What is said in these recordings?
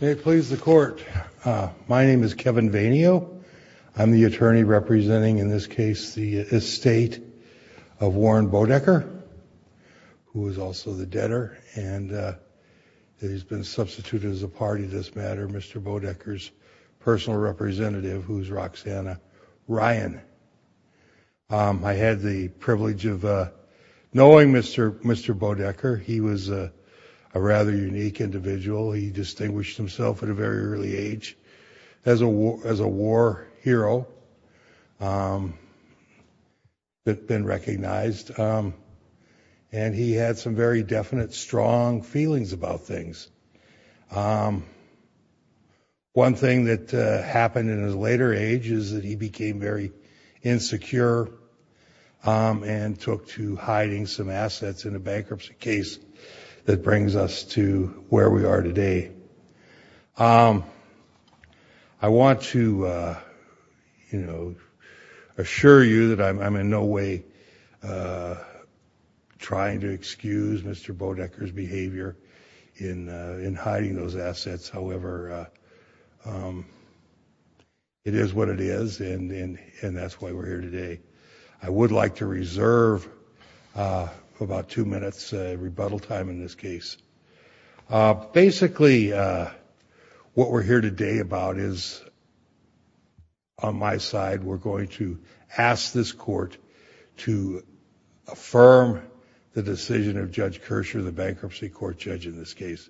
May it please the court, my name is Kevin Vainio. I'm the attorney representing in this case the estate of Warren Bodecker who is also the debtor and he's been substituted as a party this matter Mr. Bodecker's personal representative who's Ryan. I had the privilege of knowing Mr. Mr. Bodecker. He was a rather unique individual. He distinguished himself at a very early age as a war hero that been recognized and he had some very definite strong feelings about things. One thing that happened in his later age is that he became very insecure and took to hiding some assets in a bankruptcy case that brings us to where we are today. I want to you know assure you that I'm in no way trying to excuse Mr. Bodecker's behavior in in hiding those assets however it is what it is and that's why we're here today. I would like to reserve about two minutes rebuttal time in this case. Basically what we're here today about is on my the bankruptcy court judge in this case.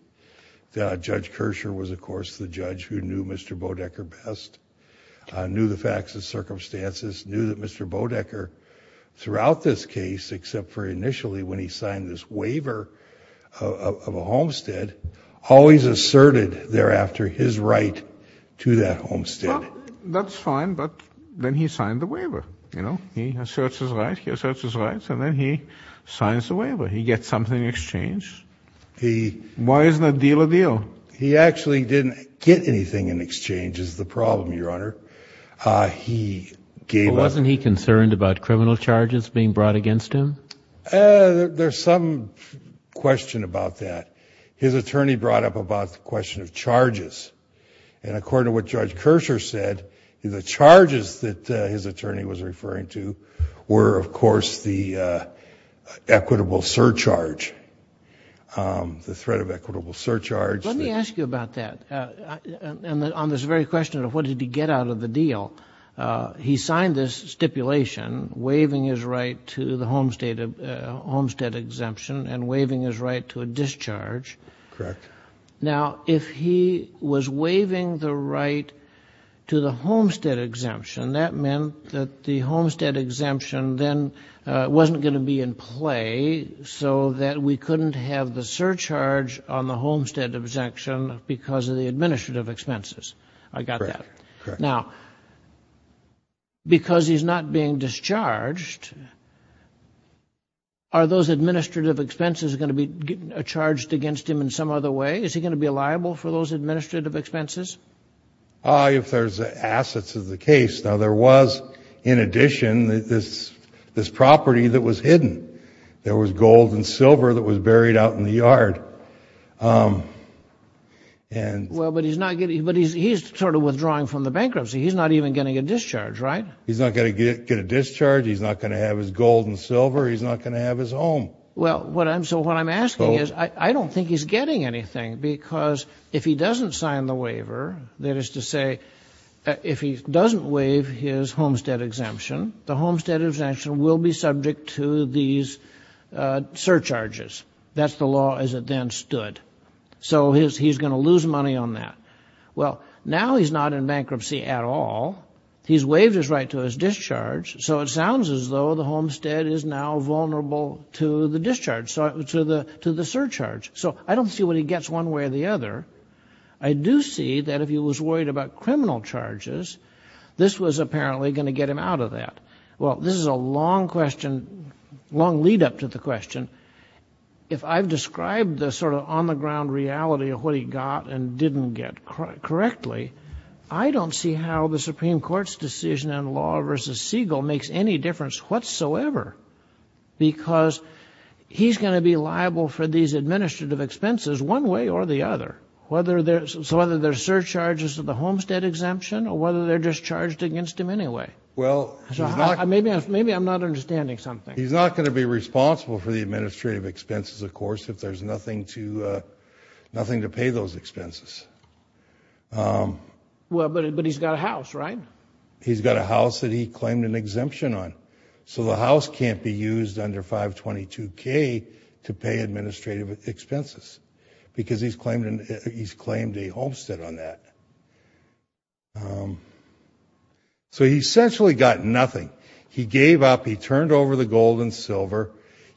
Judge Kersher was of course the judge who knew Mr. Bodecker best. Knew the facts and circumstances. Knew that Mr. Bodecker throughout this case except for initially when he signed this waiver of a homestead always asserted thereafter his right to that homestead. That's fine but then he signed the waiver you know he asserts his rights and then he signs the waiver. He gets something in exchange. Why isn't a deal a deal? He actually didn't get anything in exchange is the problem your honor. Wasn't he concerned about criminal charges being brought against him? There's some question about that. His attorney brought up about the question of charges and according to what Judge Kersher said the charges that his equitable surcharge the threat of equitable surcharge. Let me ask you about that and on this very question of what did he get out of the deal. He signed this stipulation waiving his right to the homestead exemption and waiving his right to a discharge. Correct. Now if he was waiving the right to the homestead exemption that meant that the homestead exemption then wasn't going to be in play so that we couldn't have the surcharge on the homestead exemption because of the administrative expenses. I got that. Now because he's not being discharged are those administrative expenses going to be charged against him in some other way? Is he going to be liable for those administrative expenses? If there's assets of the case. Now there was in addition that this this property that was hidden. There was gold and silver that was buried out in the yard. Well but he's not getting but he's sort of withdrawing from the bankruptcy. He's not even getting a discharge right? He's not going to get a discharge. He's not going to have his gold and silver. He's not going to have his home. Well what I'm so what I'm asking is I don't think he's getting anything because if he doesn't sign the waiver that is to say if he doesn't waive his homestead exemption the homestead exemption will be subject to these surcharges. That's the law as it then stood. So he's going to lose money on that. Well now he's not in bankruptcy at all. He's waived his right to his discharge so it sounds as though the homestead is now vulnerable to the discharge so to the to the surcharge. So I don't see what he gets one way or the other. I do see that if he out of that well this is a long question long lead-up to the question if I've described the sort of on-the-ground reality of what he got and didn't get correctly I don't see how the Supreme Court's decision in law versus Siegel makes any difference whatsoever because he's going to be liable for these administrative expenses one way or the other whether there's whether there's surcharges of the homestead exemption or whether they're discharged against him anyway. Well maybe I'm not understanding something. He's not going to be responsible for the administrative expenses of course if there's nothing to nothing to pay those expenses. Well but he's got a house right? He's got a house that he claimed an exemption on. So the house can't be used under 522 K to pay administrative expenses because he's claimed a homestead on that. So he essentially got nothing. He gave up, he turned over the gold and silver,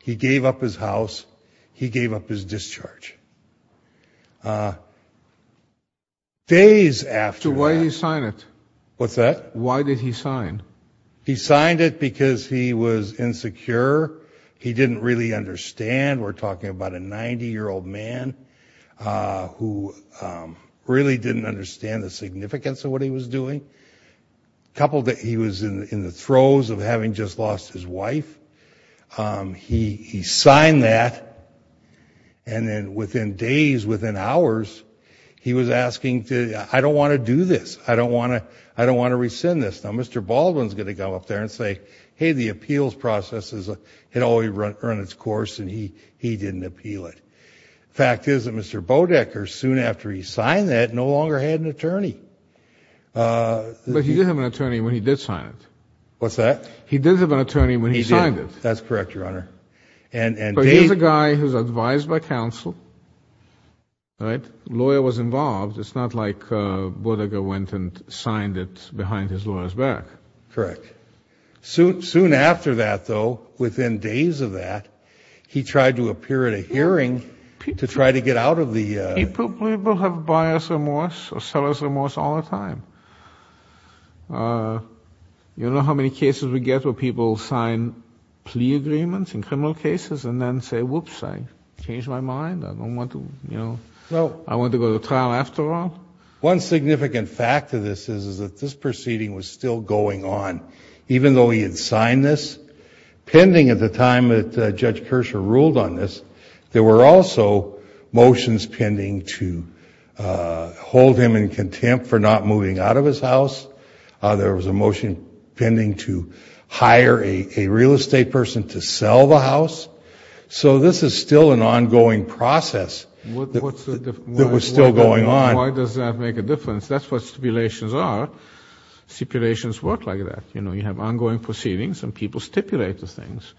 he gave up his house, he gave up his discharge. Days after... So why did he sign it? What's that? Why did he sign? He signed it because he was insecure, he didn't really understand the significance of what he was doing. He was in the throes of having just lost his wife. He signed that and then within days, within hours, he was asking to, I don't want to do this, I don't want to I don't want to rescind this. Now Mr. Baldwin's going to go up there and say hey the appeals process had already run its course and he he didn't appeal it. Fact is that Mr. Baldwin never had an attorney. But he did have an attorney when he did sign it. What's that? He did have an attorney when he signed it. That's correct your honor. And he's a guy who's advised by counsel, right? Lawyer was involved. It's not like Bodega went and signed it behind his lawyer's back. Correct. Soon after that though, within days of that, he tried to appear at a hearing to try to get out of the... He probably will have bias or seller's remorse all the time. You know how many cases we get where people sign plea agreements in criminal cases and then say whoops I changed my mind I don't want to you know well I want to go to trial after all. One significant fact of this is that this proceeding was still going on even though he had signed this pending at the time that Judge Kershaw ruled on this. There were also motions pending to hold him in contempt for not moving out of his house. There was a motion pending to hire a real estate person to sell the house. So this is still an ongoing process that was still going on. Why does that make a difference? That's what stipulations are. Stipulations work like that. You know you have ongoing proceedings and people stipulate the things.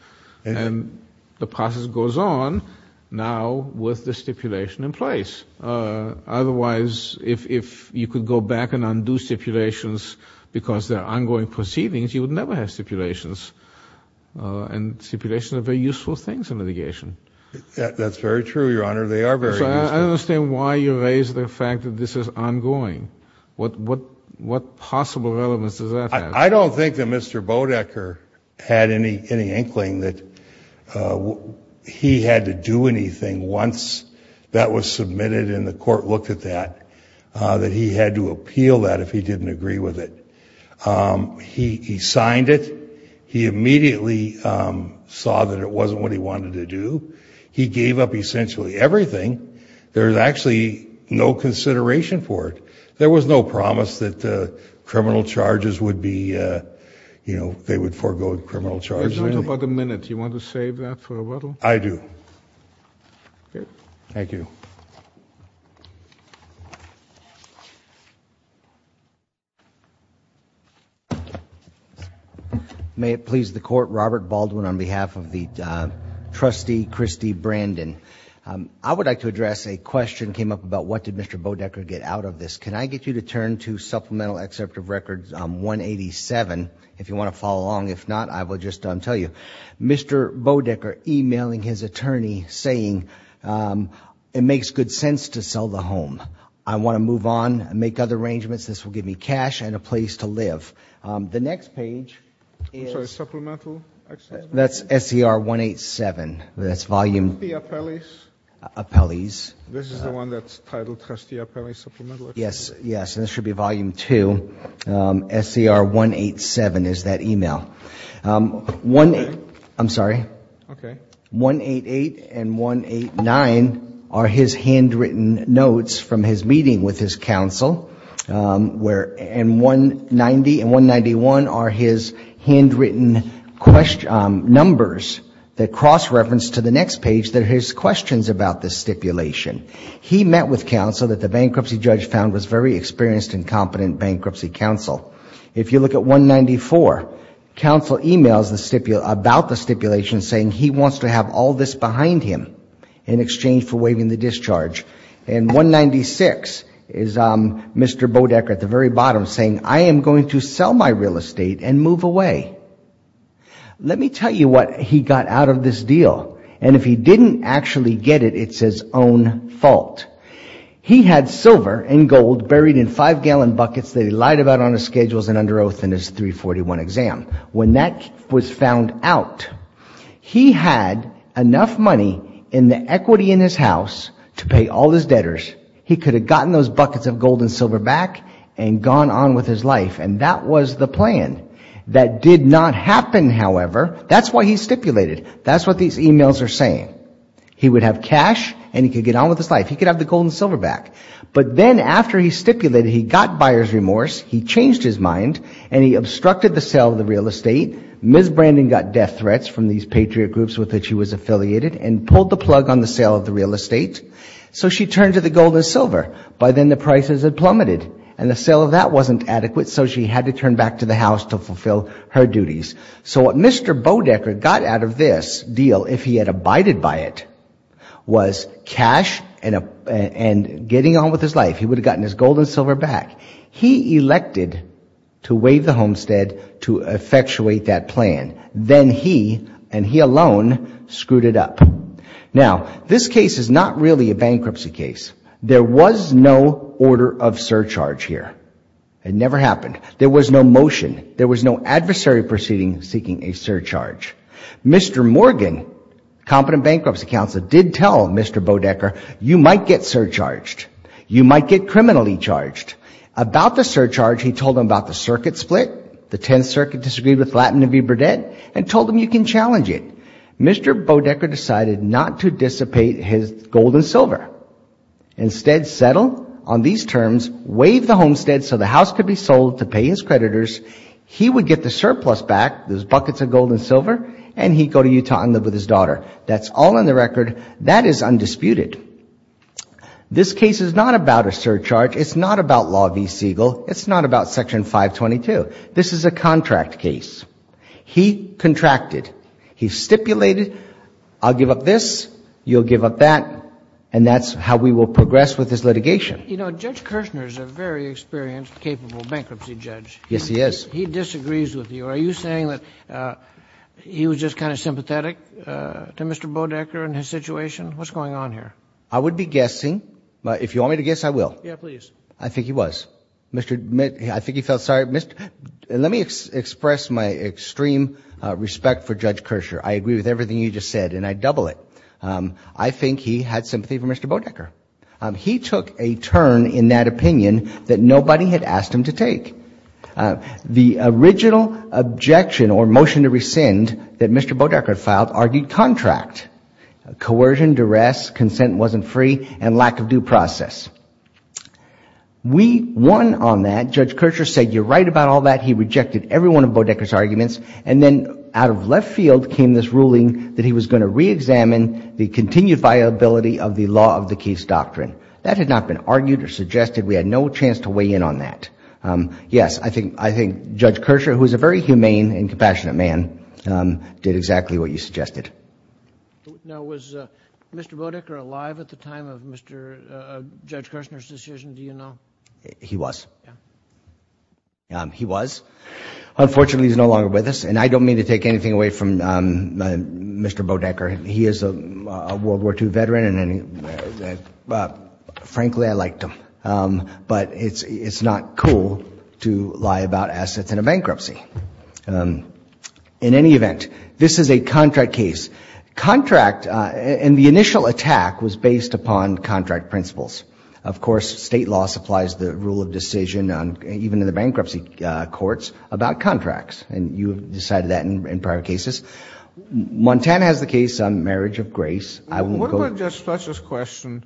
And the process goes on now with the stipulation in place. Otherwise, if you could go back and undo stipulations because they're ongoing proceedings, you would never have stipulations. And stipulations are very useful things in litigation. That's very true, Your Honor. They are very useful. I understand why you raise the fact that this is ongoing. What possible relevance does that have? I don't think that Mr. Enkling that he had to do anything once that was submitted and the court looked at that, that he had to appeal that if he didn't agree with it. He signed it. He immediately saw that it wasn't what he wanted to do. He gave up essentially everything. There's actually no consideration for it. There was no promise that criminal charges would be, you know, they would forego criminal charges. You have about a minute. Do you want to save that for a little? I do. Thank you. May it please the Court. Robert Baldwin on behalf of the trustee Christie Brandon. I would like to address a question came up about what did Mr. Bodecker get out of this. Can I get you to turn to Supplemental Excerpt of Supplemental Excerpt. Mr. Bodecker e-mailing his attorney saying it makes good sense to sell the home. I want to move on and make other arrangements. This will give me cash and a place to live. The next page, that's SCR 187. That's volume. Appellees. This is the one that's titled trustee Appellee Supplemental Excerpt. Yes. Yes. And this should be volume two. SCR 187 is that e-mail. I'm sorry. Okay. 188 and 189 are his handwritten notes from his meeting with his counsel. And 190 and 191 are his handwritten numbers that cross reference to the next page that are his questions about this stipulation. He met with his very experienced and competent bankruptcy counsel. If you look at 194, counsel e-mails about the stipulation saying he wants to have all this behind him in exchange for waiving the discharge. And 196 is Mr. Bodecker at the very bottom saying I am going to sell my real estate and move away. Let me tell you what he got out of this deal. And if he didn't actually get it, it's his own fault. He had silver and gold buried in five gallon buckets that he lied about on his schedules and under oath in his 341 exam. When that was found out, he had enough money in the equity in his house to pay all his debtors. He could have gotten those buckets of gold and silver back and gone on with his life. And that was the plan. That did not happen, however. That's why he stipulated. That's what these e-mails are saying. He would have cash and he could get on with his life. He could have the gold and silver back. But then after he stipulated, he got buyer's remorse. He changed his mind and he obstructed the sale of the real estate. Ms. Brandon got death threats from these patriot groups with which he was by then the prices had plummeted and the sale of that wasn't adequate so she had to turn back to the house to fulfill her duties. So what Mr. Bodecker got out of this deal, if he had abided by it, was cash and getting on with his life. He would have gotten his gold and silver back. He elected to waive the homestead to effectuate that plan. Then he and he alone screwed it up. Now, this case is not really a bankruptcy case. There was no order of surcharge here. It never happened. There was no motion. There was no adversary proceeding seeking a surcharge. Mr. Morgan, competent bankruptcy counsel, did tell Mr. Bodecker, you might get surcharged. You might get criminally charged. About the surcharge, he told him about the circuit split, the Tenth Circuit disagreed with Latin and V. Burdett, and told him you can challenge it. Mr. Bodecker decided not to dissipate his gold and silver. Instead, settle on these terms, waive the homestead so the house could be sold to pay his creditors. He would get the surplus back, those buckets of gold and silver, and he'd go to Utah and live with his daughter. That's all on the record. That is undisputed. This case is not about a surcharge. It's not about Law v. Siegel. It's not about Section 522. This is a contract case. He contracted. He stipulated, I'll give up this, you'll give up that, and that's how we will progress with this litigation. You know, Judge Kirchner is a very experienced, capable bankruptcy judge. Yes, he is. He disagrees with you. Are you saying that he was just kind of sympathetic to Mr. Bodecker and his situation? What's going on here? I would be guessing. If you want me to guess, I will. Yeah, please. I think he was. I think he felt sorry. Let me express my extreme respect for Judge Kirchner. I agree with everything he just said, and I double it. I think he had sympathy for Mr. Bodecker. He took a turn in that opinion that nobody had asked him to take. The original objection or motion to rescind that Mr. Bodecker filed argued contract, coercion, duress, consent wasn't free, and lack of due process. We won on that. Judge Kirchner said, you're right about all that. He rejected every one of Bodecker's arguments, and then out of left field came this ruling that he was going to reexamine the continued viability of the law of the case doctrine. That had not been argued or suggested. We had no chance to weigh in on that. Yes, I think Judge Kirchner, who is a very humane and compassionate man, did exactly what you suggested. Now, was Mr. Bodecker alive at the time of Judge Kirchner's decision? Do you know? He was. Yeah. He was. Unfortunately, he's no longer with us, and I don't mean to take anything away from Mr. Bodecker. He is a World War II veteran. Frankly, I liked him, but it's not cool to lie about assets in a bankruptcy. In any event, this is a contract case. Contract, and the initial attack was based upon contract principles. Of course, state law supplies the rule of decision, even in the bankruptcy courts, about contracts, and you have decided that in prior cases. Montana has the case on marriage of grace. What about Judge Fletcher's question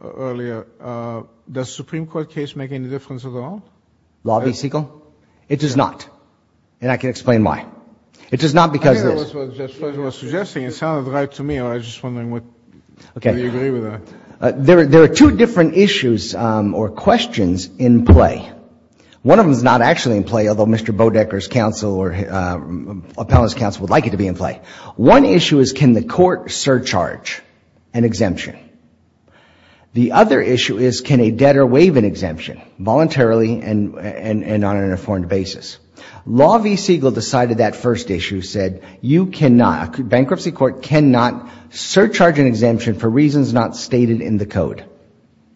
earlier? Does the Supreme Court case make any difference at all? Law v. Siegel? It does not, and I can explain why. It does not because of this. I think that was what Judge Fletcher was suggesting. It sounded right to me. I was just wondering whether you agree with that. There are two different issues or questions in play. One of them is not actually in play, although Mr. Bodecker's counsel or appellant's counsel would like it to be in play. One issue is can the court surcharge an exemption? The other issue is can a debtor waive an exemption voluntarily and on an informed basis? Law v. Siegel decided that first issue, said bankruptcy court cannot surcharge an exemption for reasons not stated in the code.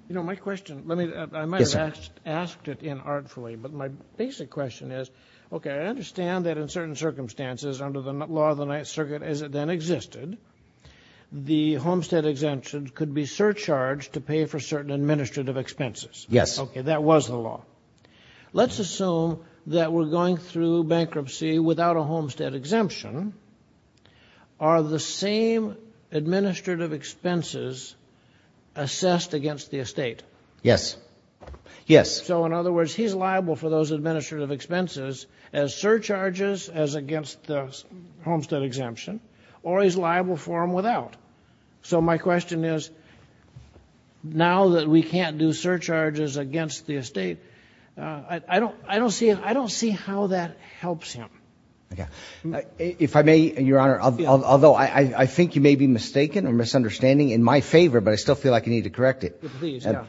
You know, my question, I might have asked it inartfully, but my basic question is, okay, I understand that in certain circumstances under the law of the Ninth Circuit as it then existed, the homestead exemption could be surcharged to pay for certain administrative expenses. Yes. Okay, that was the law. Let's assume that we're going through bankruptcy without a homestead exemption. Are the same administrative expenses assessed against the estate? Yes. Yes. So, in other words, he's liable for those administrative expenses as surcharges as against the homestead exemption, or he's liable for them without. So my question is, now that we can't do surcharges against the estate, I don't see how that helps him. If I may, Your Honor, although I think you may be mistaken or misunderstanding in my favor, but I still feel like you need to correct it.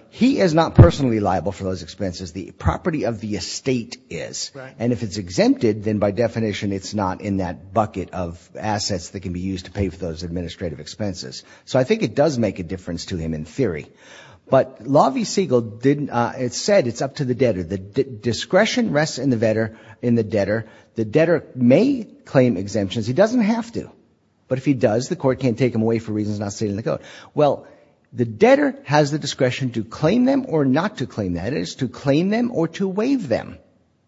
He is not personally liable for those expenses. The property of the estate is. Right. And if it's exempted, then by definition it's not in that bucket of assets that can be used to pay for those administrative expenses. So I think it does make a difference to him in theory. But Law v. Siegel said it's up to the debtor. The discretion rests in the debtor. The debtor may claim exemptions. He doesn't have to. But if he does, the court can't take him away for reasons not stated in the code. Well, the debtor has the discretion to claim them or not to claim that is to claim them or to waive them.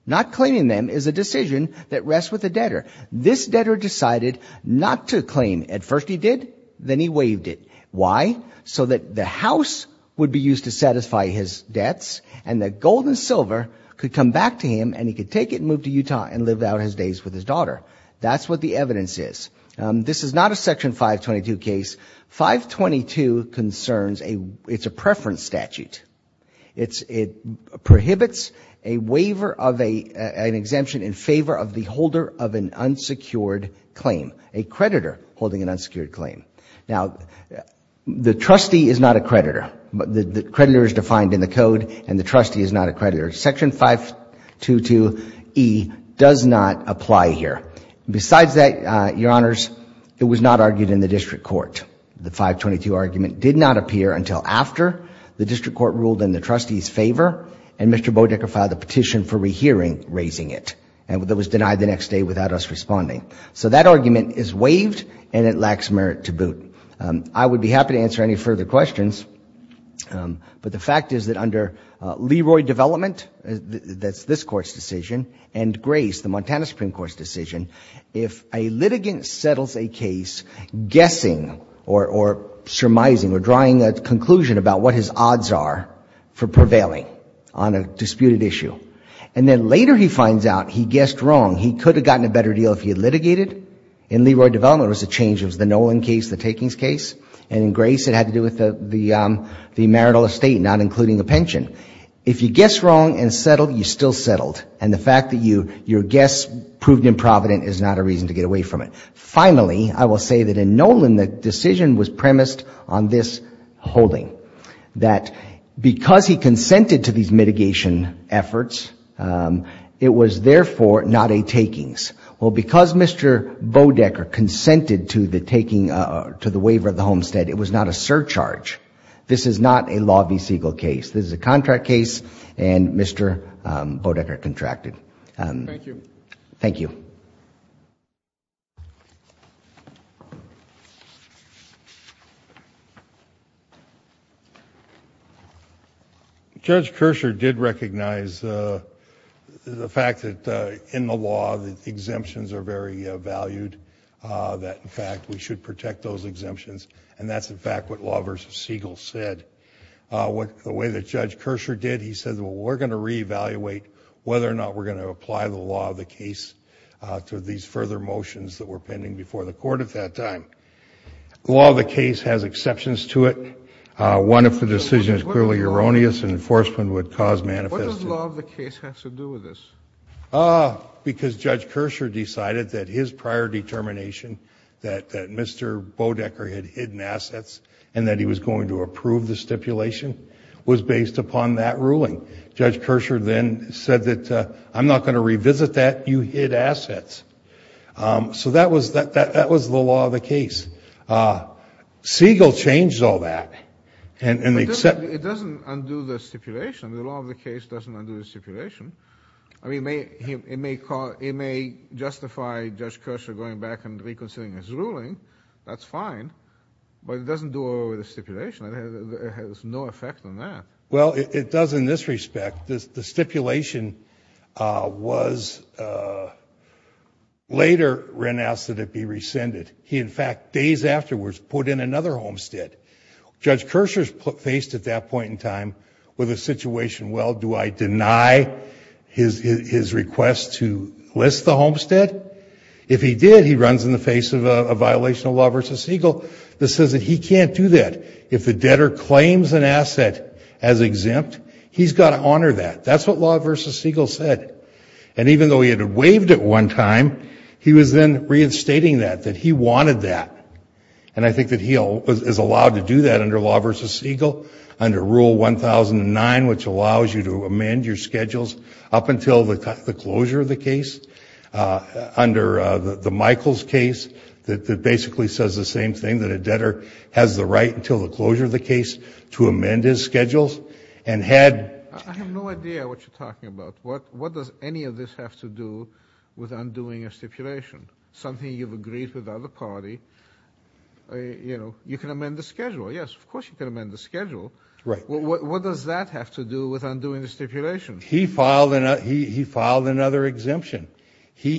Not claiming them is a decision that rests with the debtor. This debtor decided not to claim. At first he did. Then he waived it. Why? So that the house would be used to satisfy his debts and that gold and silver could come back to him and he could take it, move to Utah and live out his days with his daughter. That's what the evidence is. This is not a Section 522 case. 522 concerns a preference statute. It prohibits a waiver of an exemption in favor of the holder of an unsecured claim, a creditor holding an unsecured claim. Now, the trustee is not a creditor. The creditor is defined in the code and the trustee is not a creditor. Section 522E does not apply here. Besides that, Your Honors, it was not argued in the district court. The 522 argument did not appear until after the district court ruled in the trustee's favor and Mr. Bodecker filed a petition for rehearing raising it. And it was denied the next day without us responding. So that argument is waived and it lacks merit to boot. I would be happy to answer any further questions. But the fact is that under Leroy Development, that's this Court's decision, and Grace, the Montana Supreme Court's decision, if a litigant settles a case guessing or surmising or drawing a conclusion about what his odds are for prevailing on a disputed issue, and then later he finds out he guessed wrong, he could have gotten a better deal if he had litigated. In Leroy Development it was a change. It was the Nolan case, the takings case. And in Grace it had to do with the marital estate, not including the pension. If you guessed wrong and settled, you still settled. And the fact that your guess proved improvident is not a reason to get away from it. Finally, I will say that in Nolan the decision was premised on this holding. That because he consented to these mitigation efforts, it was therefore not a takings. Well, because Mr. Bodecker consented to the waiver of the homestead, it was not a surcharge. This is not a Law v. Siegel case. This is a contract case, and Mr. Bodecker contracted. Thank you. Thank you. Judge Kersher did recognize the fact that in the law the exemptions are very valued, that in fact we should protect those exemptions, and that's in fact what Law v. Siegel said. The way that Judge Kersher did, he said, well, we're going to reevaluate whether or not we're going to apply the law of the case to these further motions that were pending before the Court at that time. Law of the case has exceptions to it. One of the decisions is clearly erroneous, and enforcement would cause manifesting. What does law of the case have to do with this? Because Judge Kersher decided that his prior determination that Mr. Bodecker had hidden assets and that he was going to approve the stipulation was based upon that ruling. Judge Kersher then said that I'm not going to revisit that. You hid assets. So that was the law of the case. Siegel changed all that. It doesn't undo the stipulation. The law of the case doesn't undo the stipulation. It may justify Judge Kersher going back and reconsidering his ruling. That's fine. But it doesn't do away with the stipulation. It has no effect on that. Well, it does in this respect. The stipulation was later renounced, and it be rescinded. He, in fact, days afterwards put in another homestead. Judge Kersher is faced at that point in time with a situation, well, do I deny his request to list the homestead? If he did, he runs in the face of a violation of law versus Siegel that says that he can't do that. If the debtor claims an asset as exempt, he's got to honor that. That's what law versus Siegel said. And even though he had waived it one time, he was then reinstating that, that he wanted that. And I think that he is allowed to do that under law versus Siegel, under Rule 1009, which allows you to amend your schedules up until the closure of the case. Under the Michaels case, that basically says the same thing, that a debtor has the right until the closure of the case to amend his schedules. I have no idea what you're talking about. What does any of this have to do with undoing a stipulation? Something you've agreed with the other party, you know, you can amend the schedule. Yes, of course you can amend the schedule. What does that have to do with undoing the stipulation? He filed another exemption. He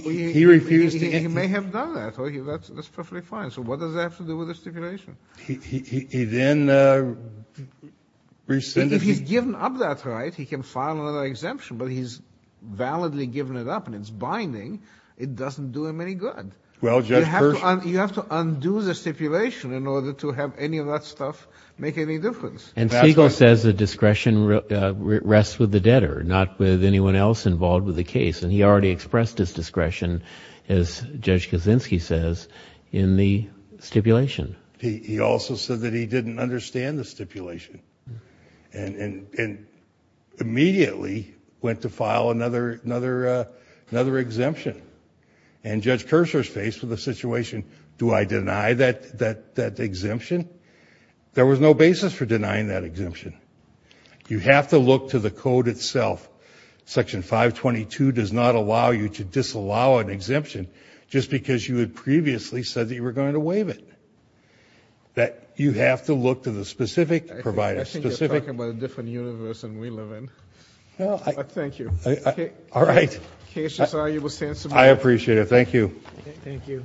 may have done that. That's perfectly fine. So what does that have to do with the stipulation? He then rescinded it. If he's given up that right, he can file another exemption, but he's validly given it up and it's binding, it doesn't do him any good. You have to undo the stipulation in order to have any of that stuff make any difference. And Siegel says the discretion rests with the debtor, not with anyone else involved with the case, and he already expressed his discretion, as Judge Kaczynski says, in the stipulation. He also said that he didn't understand the stipulation and immediately went to file another exemption. And Judge Kershaw's faced with the situation, do I deny that exemption? There was no basis for denying that exemption. You have to look to the code itself. Section 522 does not allow you to disallow an exemption just because you had previously said that you were going to waive it. You have to look to the specific provider. I think you're talking about a different universe than we live in. Thank you. All right. I appreciate it. Thank you. Thank you.